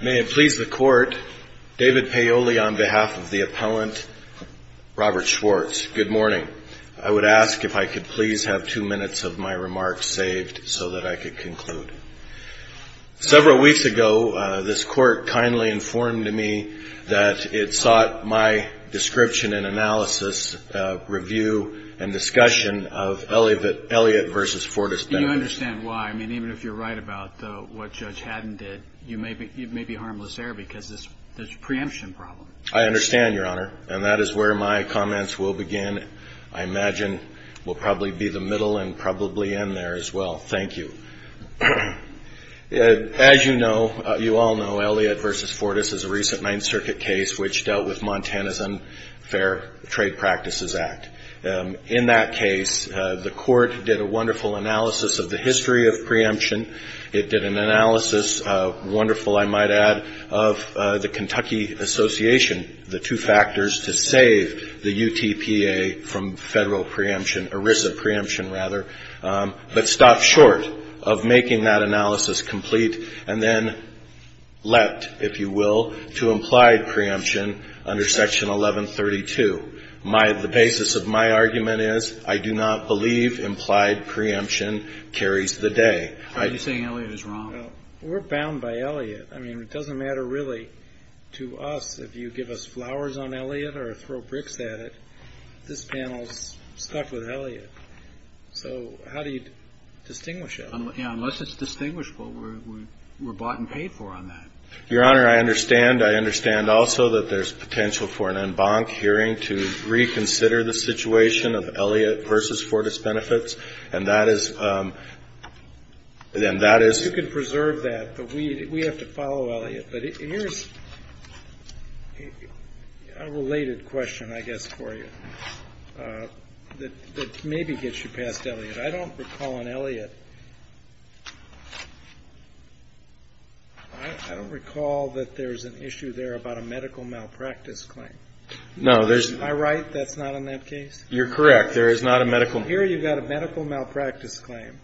May it please the court, David Paoli on behalf of the appellant, Robert Schwartz. Good morning. I would ask if I could please have two minutes of my remarks saved so that I could conclude. Several weeks ago, this court kindly informed me that it sought my description and analysis, review, and discussion of Elliott v. Fortas-Benders. And you understand why. I mean, even if you're right about what Judge Haddon did, you may be harmless there because there's a preemption problem. I understand, Your Honor, and that is where my comments will begin. I imagine we'll probably be the middle and probably end there as well. Thank you. As you all know, Elliott v. Fortas is a recent Ninth Circuit case which dealt with Montana's Unfair Trade Practices Act. In that case, the court did a wonderful analysis of the history of preemption. It did an analysis, wonderful I might add, of the Kentucky Association, the two factors to save the UTPA from federal preemption, ERISA preemption rather, but stopped short of making that analysis complete and then leapt, if you will, to implied preemption under Section 1132. The basis of my argument is I do not believe implied preemption carries the day. Are you saying Elliott is wrong? Well, we're bound by Elliott. I mean, it doesn't matter really to us if you give us flowers on Elliott or throw bricks at it. This panel's stuck with Elliott. So how do you distinguish it? Yeah, unless it's distinguishable, we're bought and paid for on that. Your Honor, I understand. I understand also that there's potential for an en banc hearing to reconsider the situation of Elliott v. Fortas Benefits. And that is — and that is — You can preserve that, but we have to follow Elliott. But here's a related question, I guess, for you that maybe gets you past Elliott. I don't recall on Elliott — I don't recall that there's an issue there about a medical malpractice claim. No, there's — Am I right that's not on that case? You're correct. There is not a medical — Here you've got a medical malpractice claim.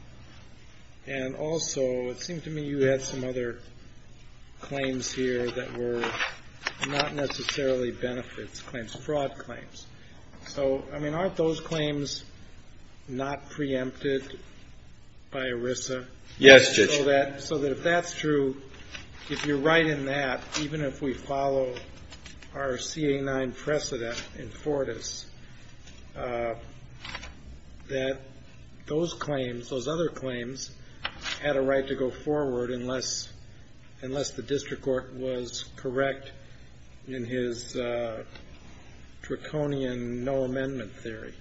And also it seemed to me you had some other claims here that were not necessarily benefits claims, fraud claims. So, I mean, aren't those claims not preempted by ERISA? Yes, Judge. So that if that's true, if you're right in that, even if we follow our CA-9 precedent in Fortas, that those claims, those other claims, had a right to go forward unless the district court was correct in his draconian no-amendment theory.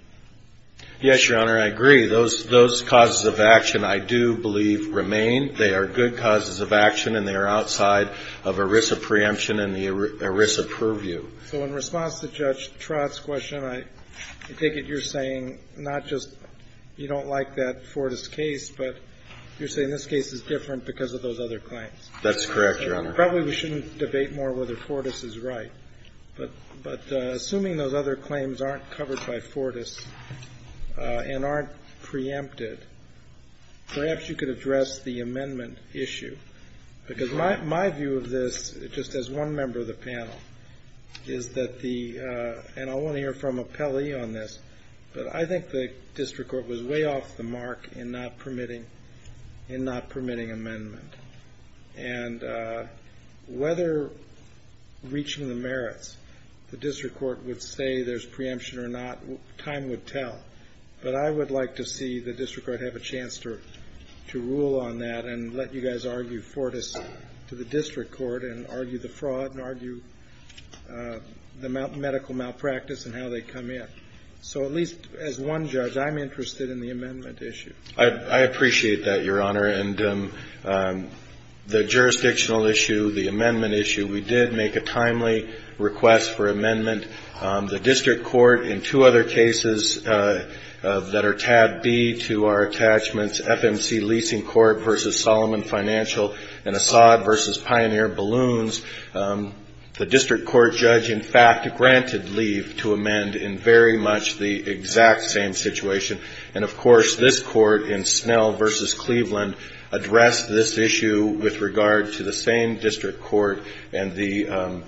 Yes, Your Honor, I agree. Those causes of action, I do believe, remain. They are good causes of action, and they are outside of ERISA preemption and the ERISA purview. So in response to Judge Trott's question, I take it you're saying not just you don't like that Fortas case, but you're saying this case is different because of those other claims. That's correct, Your Honor. Probably we shouldn't debate more whether Fortas is right. But assuming those other claims aren't covered by Fortas and aren't preempted, perhaps you could address the amendment issue. Because my view of this, just as one member of the panel, is that the ‑‑ and I want to hear from Appelli on this, but I think the district court was way off the mark in not permitting amendment. And whether reaching the merits, the district court would say there's preemption or not, time would tell. But I would like to see the district court have a chance to rule on that and let you guys argue Fortas to the district court and argue the fraud and argue the medical malpractice and how they come in. So at least as one judge, I'm interested in the amendment issue. I appreciate that, Your Honor. And the jurisdictional issue, the amendment issue, we did make a timely request for amendment. The district court in two other cases that are tab B to our attachments, FMC Leasing Court v. Solomon Financial and Assad v. Pioneer Balloons, the district court judge, in fact, granted leave to amend in very much the exact same situation. And, of course, this court in Snell v. Cleveland addressed this issue with regard to the same district court and the –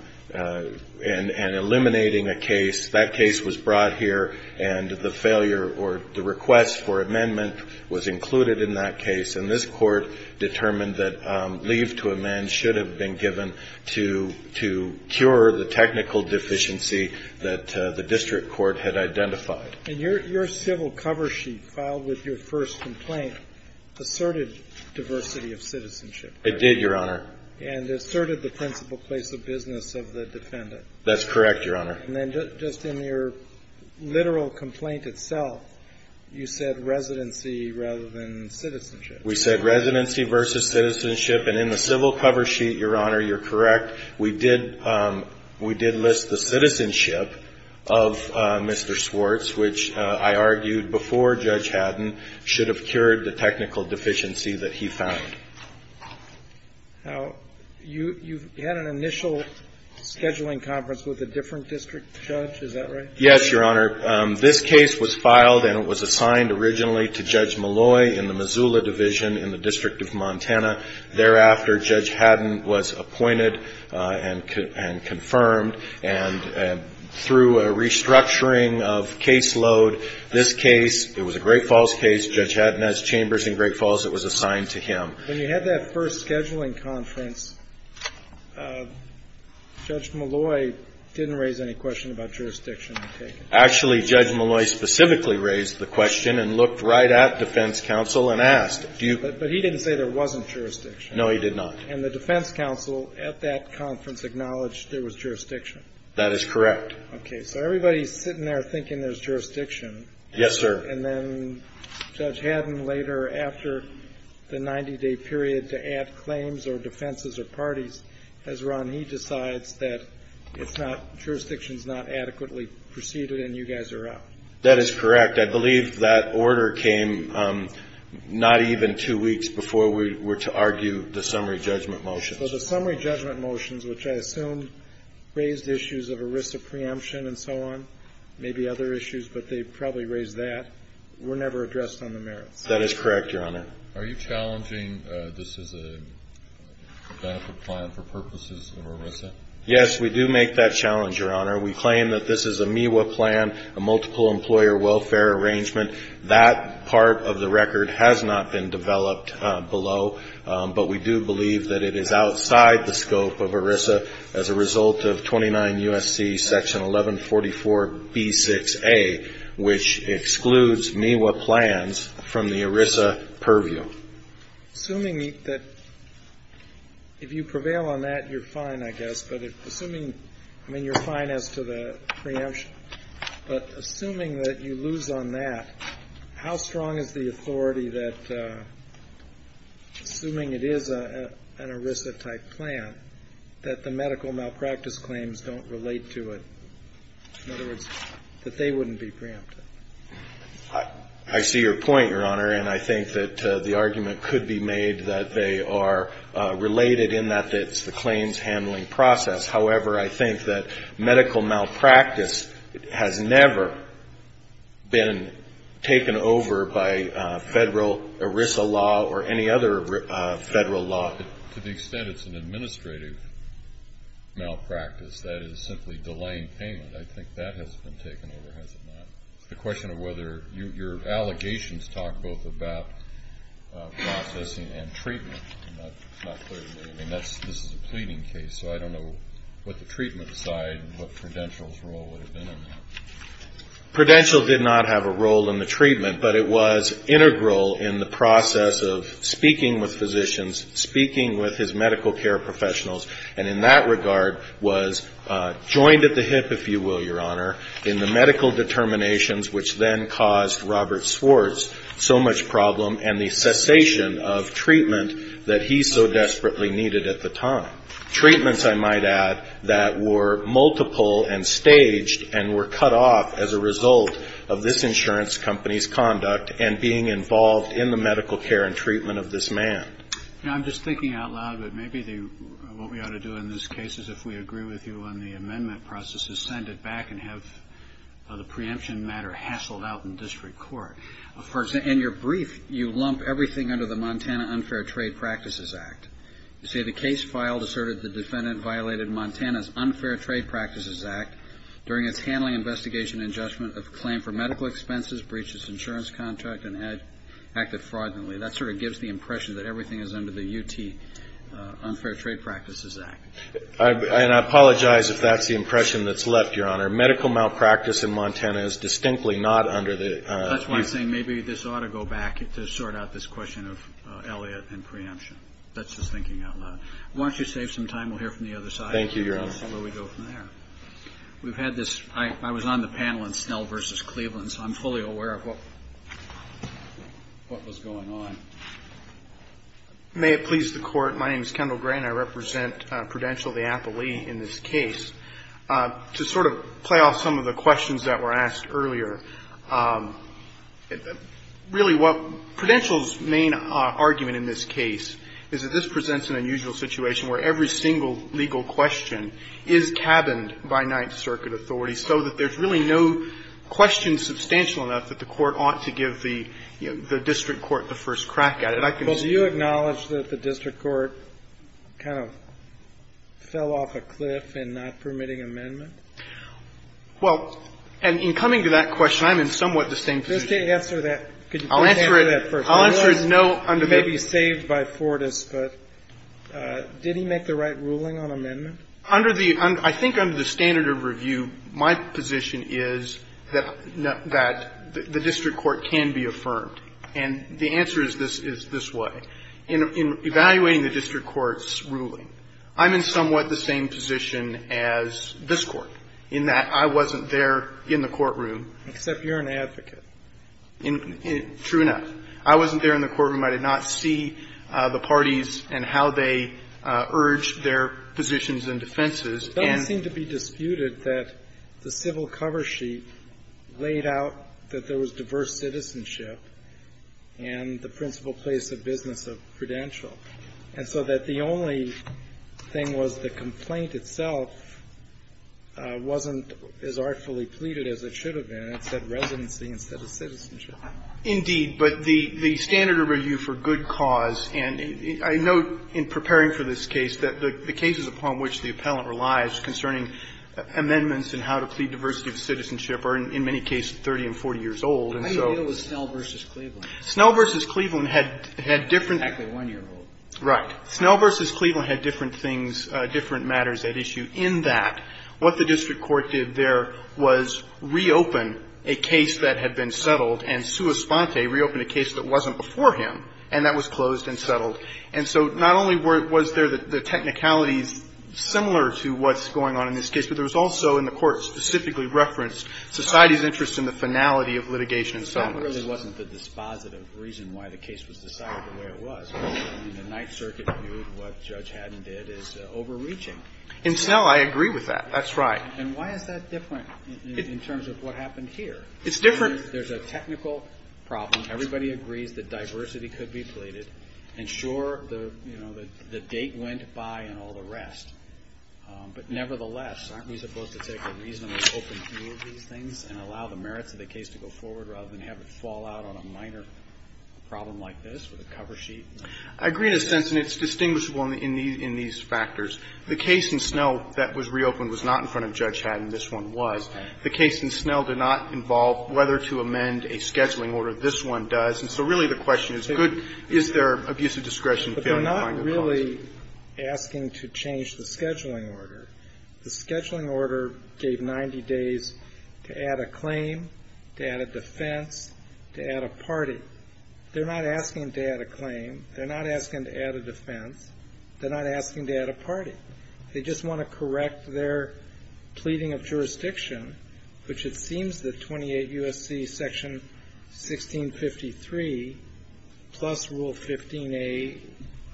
and eliminating a case. That case was brought here and the failure or the request for amendment was included in that case. And this court determined that leave to amend should have been given to cure the technical deficiency that the district court had identified. And your civil cover sheet filed with your first complaint asserted diversity of citizenship. It did, Your Honor. And asserted the principal place of business of the defendant. That's correct, Your Honor. And then just in your literal complaint itself, you said residency rather than citizenship. We said residency versus citizenship. And in the civil cover sheet, Your Honor, you're correct, we did list the citizenship of Mr. Swartz, which I argued before Judge Haddon should have cured the technical deficiency that he found. Now, you've had an initial scheduling conference with a different district judge, is that right? Yes, Your Honor. This case was filed and it was assigned originally to Judge Malloy in the Missoula Division in the District of Montana. Thereafter, Judge Haddon was appointed and confirmed. And through a restructuring of caseload, this case, it was a Great Falls case. Judge Haddon has chambers in Great Falls. It was assigned to him. When you had that first scheduling conference, Judge Malloy didn't raise any question about jurisdiction. Actually, Judge Malloy specifically raised the question and looked right at defense counsel and asked. But he didn't say there wasn't jurisdiction. No, he did not. And the defense counsel at that conference acknowledged there was jurisdiction. That is correct. Okay. So everybody's sitting there thinking there's jurisdiction. Yes, sir. And then Judge Haddon later, after the 90-day period to add claims or defenses or parties has run, he decides that it's not, jurisdiction's not adequately preceded and you guys are out. That is correct. I believe that order came not even two weeks before we were to argue the summary judgment motions. So the summary judgment motions, which I assume raised issues of a risk of preemption and so on, maybe other issues, but they probably raised that, were never addressed on the merits. That is correct, Your Honor. Are you challenging this as a benefit plan for purposes of ERISA? Yes, we do make that challenge, Your Honor. We claim that this is a MEWA plan, a multiple employer welfare arrangement. That part of the record has not been developed below. But we do believe that it is outside the scope of ERISA as a result of 29 U.S.C. Section 1144B6A, which excludes MEWA plans from the ERISA purview. Assuming that if you prevail on that, you're fine, I guess. But assuming, I mean, you're fine as to the preemption. But assuming that you lose on that, how strong is the authority that, assuming it is an ERISA-type plan, that the medical malpractice claims don't relate to it? In other words, that they wouldn't be preempted? I see your point, Your Honor. And I think that the argument could be made that they are related in that it's the claims handling process. However, I think that medical malpractice has never been taken over by federal ERISA law or any other federal law. To the extent it's an administrative malpractice, that is simply delaying payment, I think that has been taken over, has it not? It's a question of whether your allegations talk both about processing and treatment. It's not clear to me. I mean, this is a pleading case, so I don't know what the treatment side, what Prudential's role would have been in that. Prudential did not have a role in the treatment, but it was integral in the process of speaking with physicians, speaking with his medical care professionals, and in that regard was joined at the hip, if you will, Your Honor, in the medical determinations which then caused Robert Swartz so much problem and the cessation of treatment that he so desperately needed at the time. Treatments, I might add, that were multiple and staged and were cut off as a result of this insurance company's conduct and being involved in the medical care and treatment of this man. I'm just thinking out loud that maybe what we ought to do in this case is if we agree with you on the amendment process is send it back and have the preemption matter hassled out in district court. In your brief, you lump everything under the Montana Unfair Trade Practices Act. You say the case filed asserted the defendant violated Montana's Unfair Trade Practices Act during its handling investigation and judgment of claim for medical expenses, breach of its insurance contract, and acted fraudulently. That sort of gives the impression that everything is under the U.T. Unfair Trade Practices Act. And I apologize if that's the impression that's left, Your Honor. Medical malpractice in Montana is distinctly not under the U.T. That's why I'm saying maybe this ought to go back to sort out this question of Elliott and preemption. That's just thinking out loud. Why don't you save some time? We'll hear from the other side. Thank you, Your Honor. We'll see where we go from there. We've had this. I was on the panel in Snell v. Cleveland, so I'm fully aware of what was going on. May it please the Court. My name is Kendall Gray, and I represent Prudential v. Appley in this case. To sort of play off some of the questions that were asked earlier, really what Prudential's main argument in this case is that this presents an unusual situation where every single legal question is cabined by Ninth Circuit authority so that there's really no question substantial enough that the Court ought to give the district court the first crack at it. Well, do you acknowledge that the district court kind of fell off a cliff in not permitting amendment? Well, and in coming to that question, I'm in somewhat the same position. Just to answer that, could you please answer that first? I'll answer it. I know under the ---- He may be saved by Fortas, but did he make the right ruling on amendment? Under the ---- I think under the standard of review, my position is that the district court can be affirmed. And the answer is this way. In evaluating the district court's ruling, I'm in somewhat the same position as this Court in that I wasn't there in the courtroom. Except you're an advocate. True enough. I wasn't there in the courtroom. I did not see the parties and how they urged their positions and defenses. It doesn't seem to be disputed that the civil cover sheet laid out that there was diverse citizenship and the principal place of business of credential. And so that the only thing was the complaint itself wasn't as artfully pleaded as it should have been. It said residency instead of citizenship. Indeed. But the standard of review for good cause, and I note in preparing for this case that the cases upon which the appellant relies concerning amendments and how to plead diversity of citizenship are in many cases 30 and 40 years old, and so ---- How do you deal with Snell v. Cleveland? Snell v. Cleveland had different ---- Exactly one year old. Right. Snell v. Cleveland had different things, different matters at issue in that what the district court did there was reopen a case that had been settled and sua sponte, reopen a case that wasn't before him, and that was closed and settled. And so not only was there the technicalities similar to what's going on in this case, but there was also in the court specifically referenced society's interest in the finality of litigation in Snell v. Cleveland. That really wasn't the dispositive reason why the case was decided the way it was. I mean, the Ninth Circuit viewed what Judge Haddon did as overreaching. In Snell, I agree with that. That's right. And why is that different in terms of what happened here? It's different. There's a technical problem. Everybody agrees that diversity could be pleaded. And sure, the, you know, the date went by and all the rest. But nevertheless, aren't we supposed to take a reasonable open view of these things and allow the merits of the case to go forward rather than have it fall out on a minor problem like this with a cover sheet? I agree in a sense, and it's distinguishable in these factors. The case in Snell that was reopened was not in front of Judge Haddon. This one was. The case in Snell did not involve whether to amend a scheduling order. This one does. And so really the question is, is there abusive discretion failing to find a cause? But they're not really asking to change the scheduling order. The scheduling order gave 90 days to add a claim, to add a defense, to add a party. They're not asking to add a claim. They're not asking to add a defense. They're not asking to add a party. They just want to correct their pleading of jurisdiction, which it seems that 28 U.S.C. Section 1653 plus Rule 15a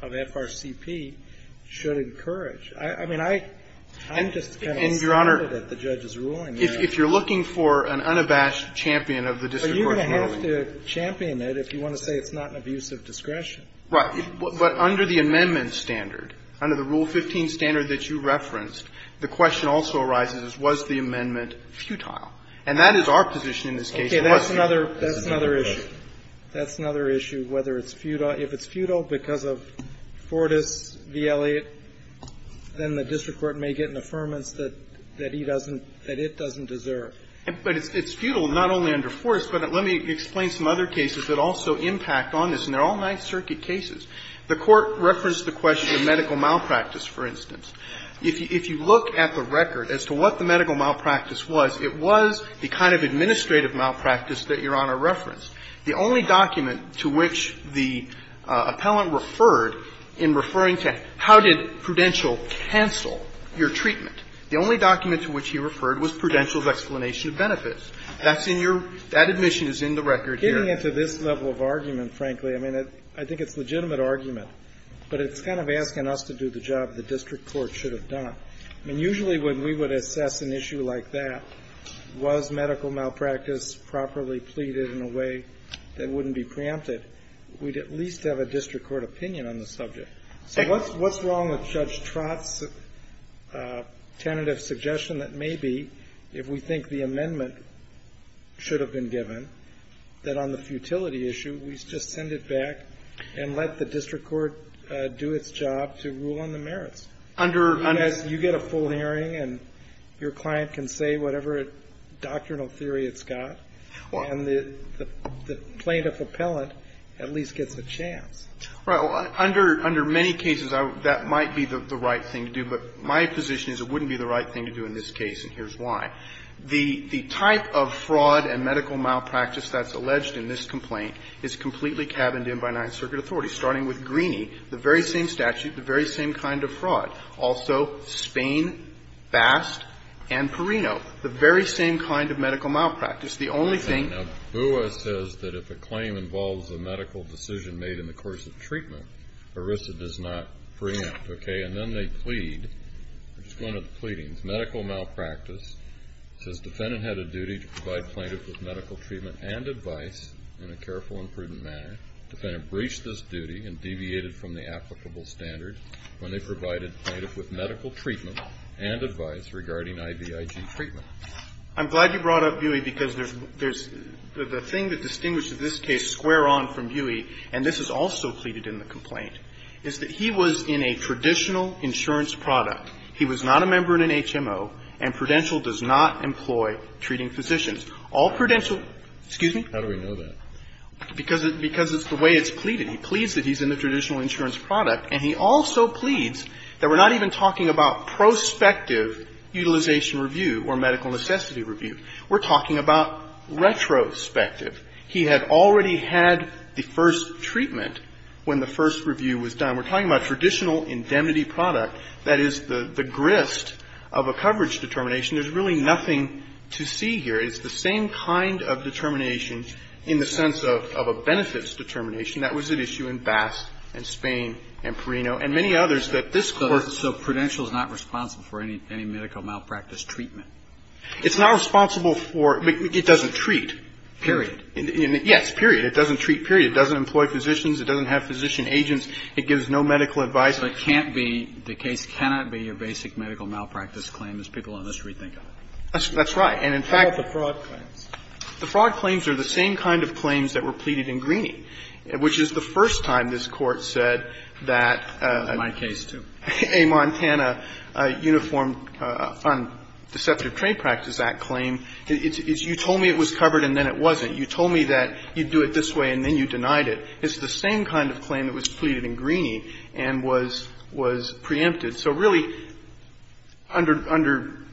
of FRCP should encourage. I mean, I'm just kind of excited at the judge's ruling there. And, Your Honor, if you're looking for an unabashed champion of the district court's ruling. But you're going to have to champion it if you want to say it's not an abusive discretion. Right. But under the amendment standard, under the Rule 15 standard that you referenced, the question also arises, was the amendment futile? And that is our position in this case. Okay. That's another issue. That's another issue, whether it's futile. If it's futile because of Fortas v. Elliott, then the district court may get an affirmance that he doesn't, that it doesn't deserve. But it's futile not only under Fortas. But let me explain some other cases that also impact on this. And they're all Ninth Circuit cases. The Court referenced the question of medical malpractice, for instance. If you look at the record as to what the medical malpractice was, it was the kind of administrative malpractice that Your Honor referenced. The only document to which the appellant referred in referring to how did Prudential cancel your treatment, the only document to which he referred was Prudential's explanation of benefits. That's in your – that admission is in the record here. Getting into this level of argument, frankly, I mean, I think it's a legitimate argument. But it's kind of asking us to do the job the district court should have done. I mean, usually when we would assess an issue like that, was medical malpractice properly pleaded in a way that wouldn't be preempted, we'd at least have a district court opinion on the subject. So what's wrong with Judge Trott's tentative suggestion that maybe if we think the merits should have been given, that on the futility issue we just send it back and let the district court do its job to rule on the merits? Because you get a full hearing and your client can say whatever doctrinal theory it's got, and the plaintiff appellant at least gets a chance. Well, under many cases that might be the right thing to do, but my position is it wouldn't be the right thing to do in this case, and here's why. The type of fraud and medical malpractice that's alleged in this complaint is completely cabined in by Ninth Circuit authorities, starting with Greeney, the very same statute, the very same kind of fraud. Also, Spain, Bast, and Perino, the very same kind of medical malpractice. The only thing that Booyah says that if a claim involves a medical decision made in the course of treatment, ERISA does not preempt, okay, and then they plead. We're just going to the pleadings. Medical malpractice says defendant had a duty to provide plaintiff with medical treatment and advice in a careful and prudent manner. Defendant breached this duty and deviated from the applicable standard when they provided plaintiff with medical treatment and advice regarding IVIG treatment. I'm glad you brought up Buie because there's the thing that distinguishes this case square on from Buie, and this is also pleaded in the complaint, is that he was in a traditional insurance product. He was not a member in an HMO, and Prudential does not employ treating physicians. All Prudential, excuse me? How do we know that? Because it's the way it's pleaded. He pleads that he's in a traditional insurance product, and he also pleads that we're not even talking about prospective utilization review or medical necessity review. We're talking about retrospective. He had already had the first treatment when the first review was done. We're talking about traditional indemnity product. That is the grist of a coverage determination. There's really nothing to see here. It's the same kind of determination in the sense of a benefits determination. That was at issue in Bass and Spain and Perino and many others that this Court ---- So Prudential is not responsible for any medical malpractice treatment. It's not responsible for ñ it doesn't treat, period. Period. Yes, period. It doesn't treat, period. It doesn't employ physicians. It doesn't have physician agents. It gives no medical advice. But it can't be ñ the case cannot be a basic medical malpractice claim. There's people on this who rethink it. That's right. And in fact ñ What about the fraud claims? The fraud claims are the same kind of claims that were pleaded in Greeney, which is the first time this Court said that ñ In my case, too. ñ a Montana uniform on deceptive trade practice act claim. It's you told me it was covered and then it wasn't. You told me that you'd do it this way and then you denied it. It's the same kind of claim that was pleaded in Greeney and was preempted. So really, under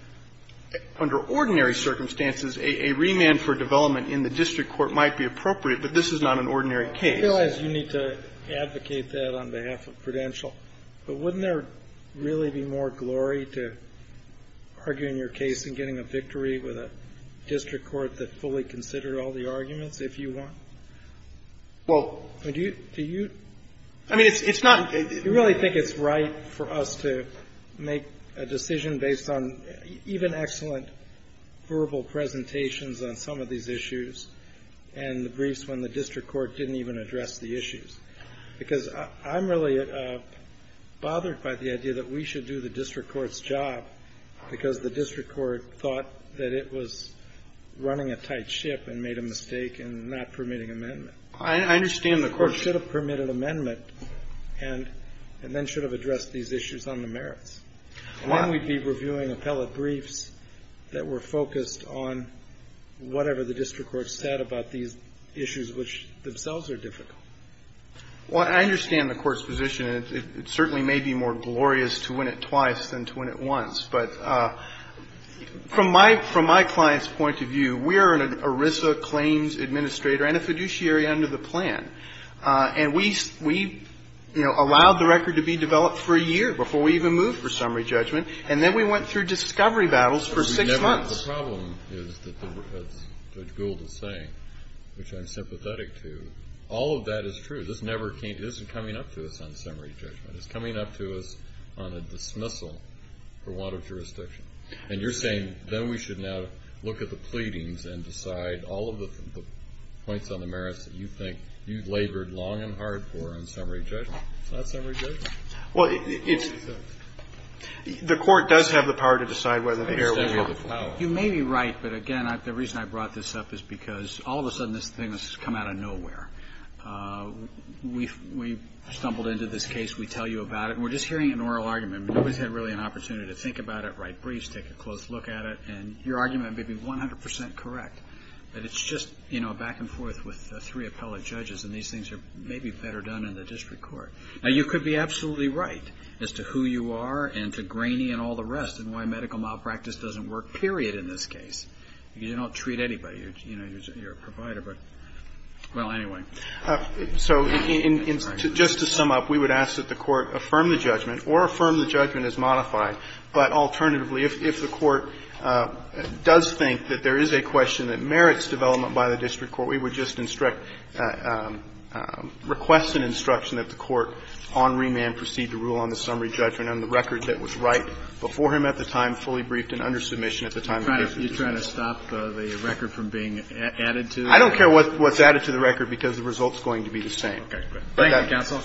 ordinary circumstances, a remand for development in the district court might be appropriate, but this is not an ordinary case. I realize you need to advocate that on behalf of Prudential, but wouldn't there really be more glory to arguing your case and getting a victory with a district court that fully considered all the arguments, if you want? Well, do you ñ do you ñ I mean, it's not ñ Do you really think it's right for us to make a decision based on even excellent verbal presentations on some of these issues and the briefs when the district court didn't even address the issues? Because I'm really bothered by the idea that we should do the district court's job because the district court thought that it was running a tight ship and made a mistake in not permitting amendment. I understand the question. The court should have permitted amendment and then should have addressed these issues on the merits. And then we'd be reviewing appellate briefs that were focused on whatever the district court said about these issues, which themselves are difficult. Well, I understand the court's position. It certainly may be more glorious to win it twice than to win it once. But from my ñ from my client's point of view, we are an ERISA claims administrator and a fiduciary under the plan. And we, you know, allowed the record to be developed for a year before we even moved for summary judgment. And then we went through discovery battles for six months. The problem is that the ñ as Judge Gould is saying, which I'm sympathetic to, all of that is true. This never came ñ this isn't coming up to us on summary judgment. It's coming up to us on a dismissal for want of jurisdiction. And you're saying then we should now look at the pleadings and decide all of the points on the merits that you think you've labored long and hard for on summary judgment. It's not summary judgment. Well, it's ñ the court does have the power to decide whether the heir will be allowed. You may be right, but again, the reason I brought this up is because all of a sudden this thing has come out of nowhere. We've stumbled into this case. We tell you about it. And we're just hearing an oral argument. Nobody's had really an opportunity to think about it, write briefs, take a close look at it. And your argument may be 100 percent correct, but it's just, you know, back and forth with three appellate judges. And these things are maybe better done in the district court. Now, you could be absolutely right as to who you are and to Graney and all the rest and why medical malpractice doesn't work, period, in this case. You don't treat anybody. You know, you're a provider. But, well, anyway. So just to sum up, we would ask that the court affirm the judgment or affirm the judgment as modified. But alternatively, if the court does think that there is a question that merits development by the district court, we would just instruct ñ request an instruction that the court on remand proceed to rule on the summary judgment on the record that was right before him at the time, fully briefed and under submission at the time and have that final judgment. And to the point that we're trying to stop the record from being added to. I don't care what's added to the record, because the result's going to be the same. Thank you, counsel.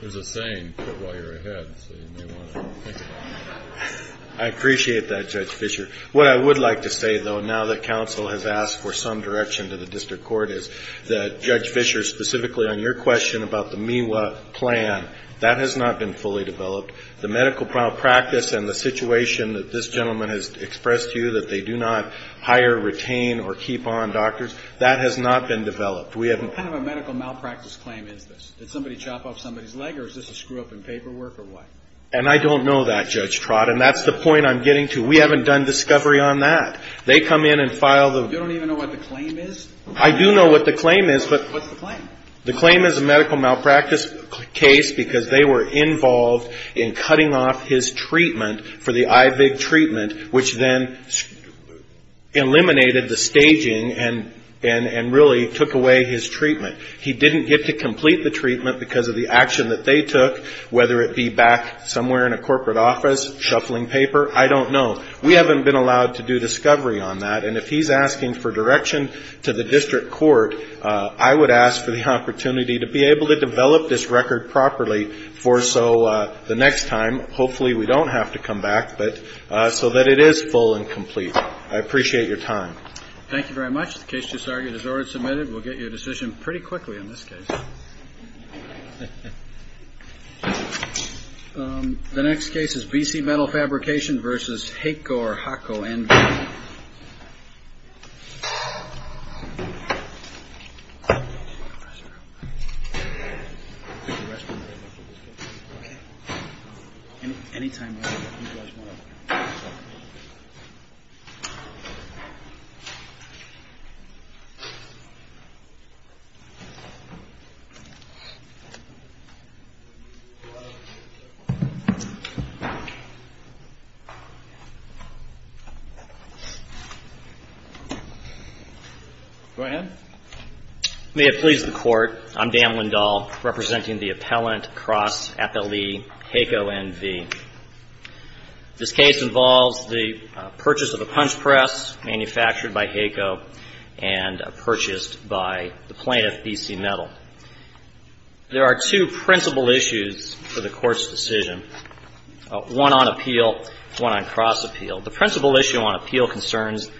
There's a saying put while you're ahead, so you may want to think about that. I appreciate that, Judge Fischer. What I would like to say, though, now that counsel has asked for some direction to the district court, is that, Judge Fischer, specifically on your question about the Miwa plan, that has not been fully developed. The medical malpractice and the situation that this gentleman has expressed to you, that they do not hire, retain, or keep on doctors, that has not been developed. What kind of a medical malpractice claim is this? Did somebody chop off somebody's leg, or is this a screw-up in paperwork, or what? And I don't know that, Judge Trott, and that's the point I'm getting to. We haven't done discovery on that. They come in and file the ---- You don't even know what the claim is? I do know what the claim is, but ---- What's the claim? The claim is a medical malpractice case because they were involved in cutting off his treatment for the IVIG treatment, which then eliminated the staging and really took away his treatment. He didn't get to complete the treatment because of the action that they took, whether it be back somewhere in a corporate office, shuffling paper, I don't know. We haven't been allowed to do discovery on that. And if he's asking for direction to the district court, I would ask for the opportunity to be able to develop this record properly for so the next time, hopefully we don't have to come back, but so that it is full and complete. I appreciate your time. Thank you very much. The case just argued is already submitted. We'll get you a decision pretty quickly on this case. The next case is BC Metal Fabrication versus HACO or HACO. And then ---- Any time now. Go ahead. Thank you, Your Honor. I'm Dan Lindahl representing the appellant cross appellee HACO NV. This case involves the purchase of a punch press manufactured by HACO and purchased by the plaintiff, BC Metal. There are two principal issues for the Court's decision, one on appeal, one on cross appeal. The principal issue on appeal concerns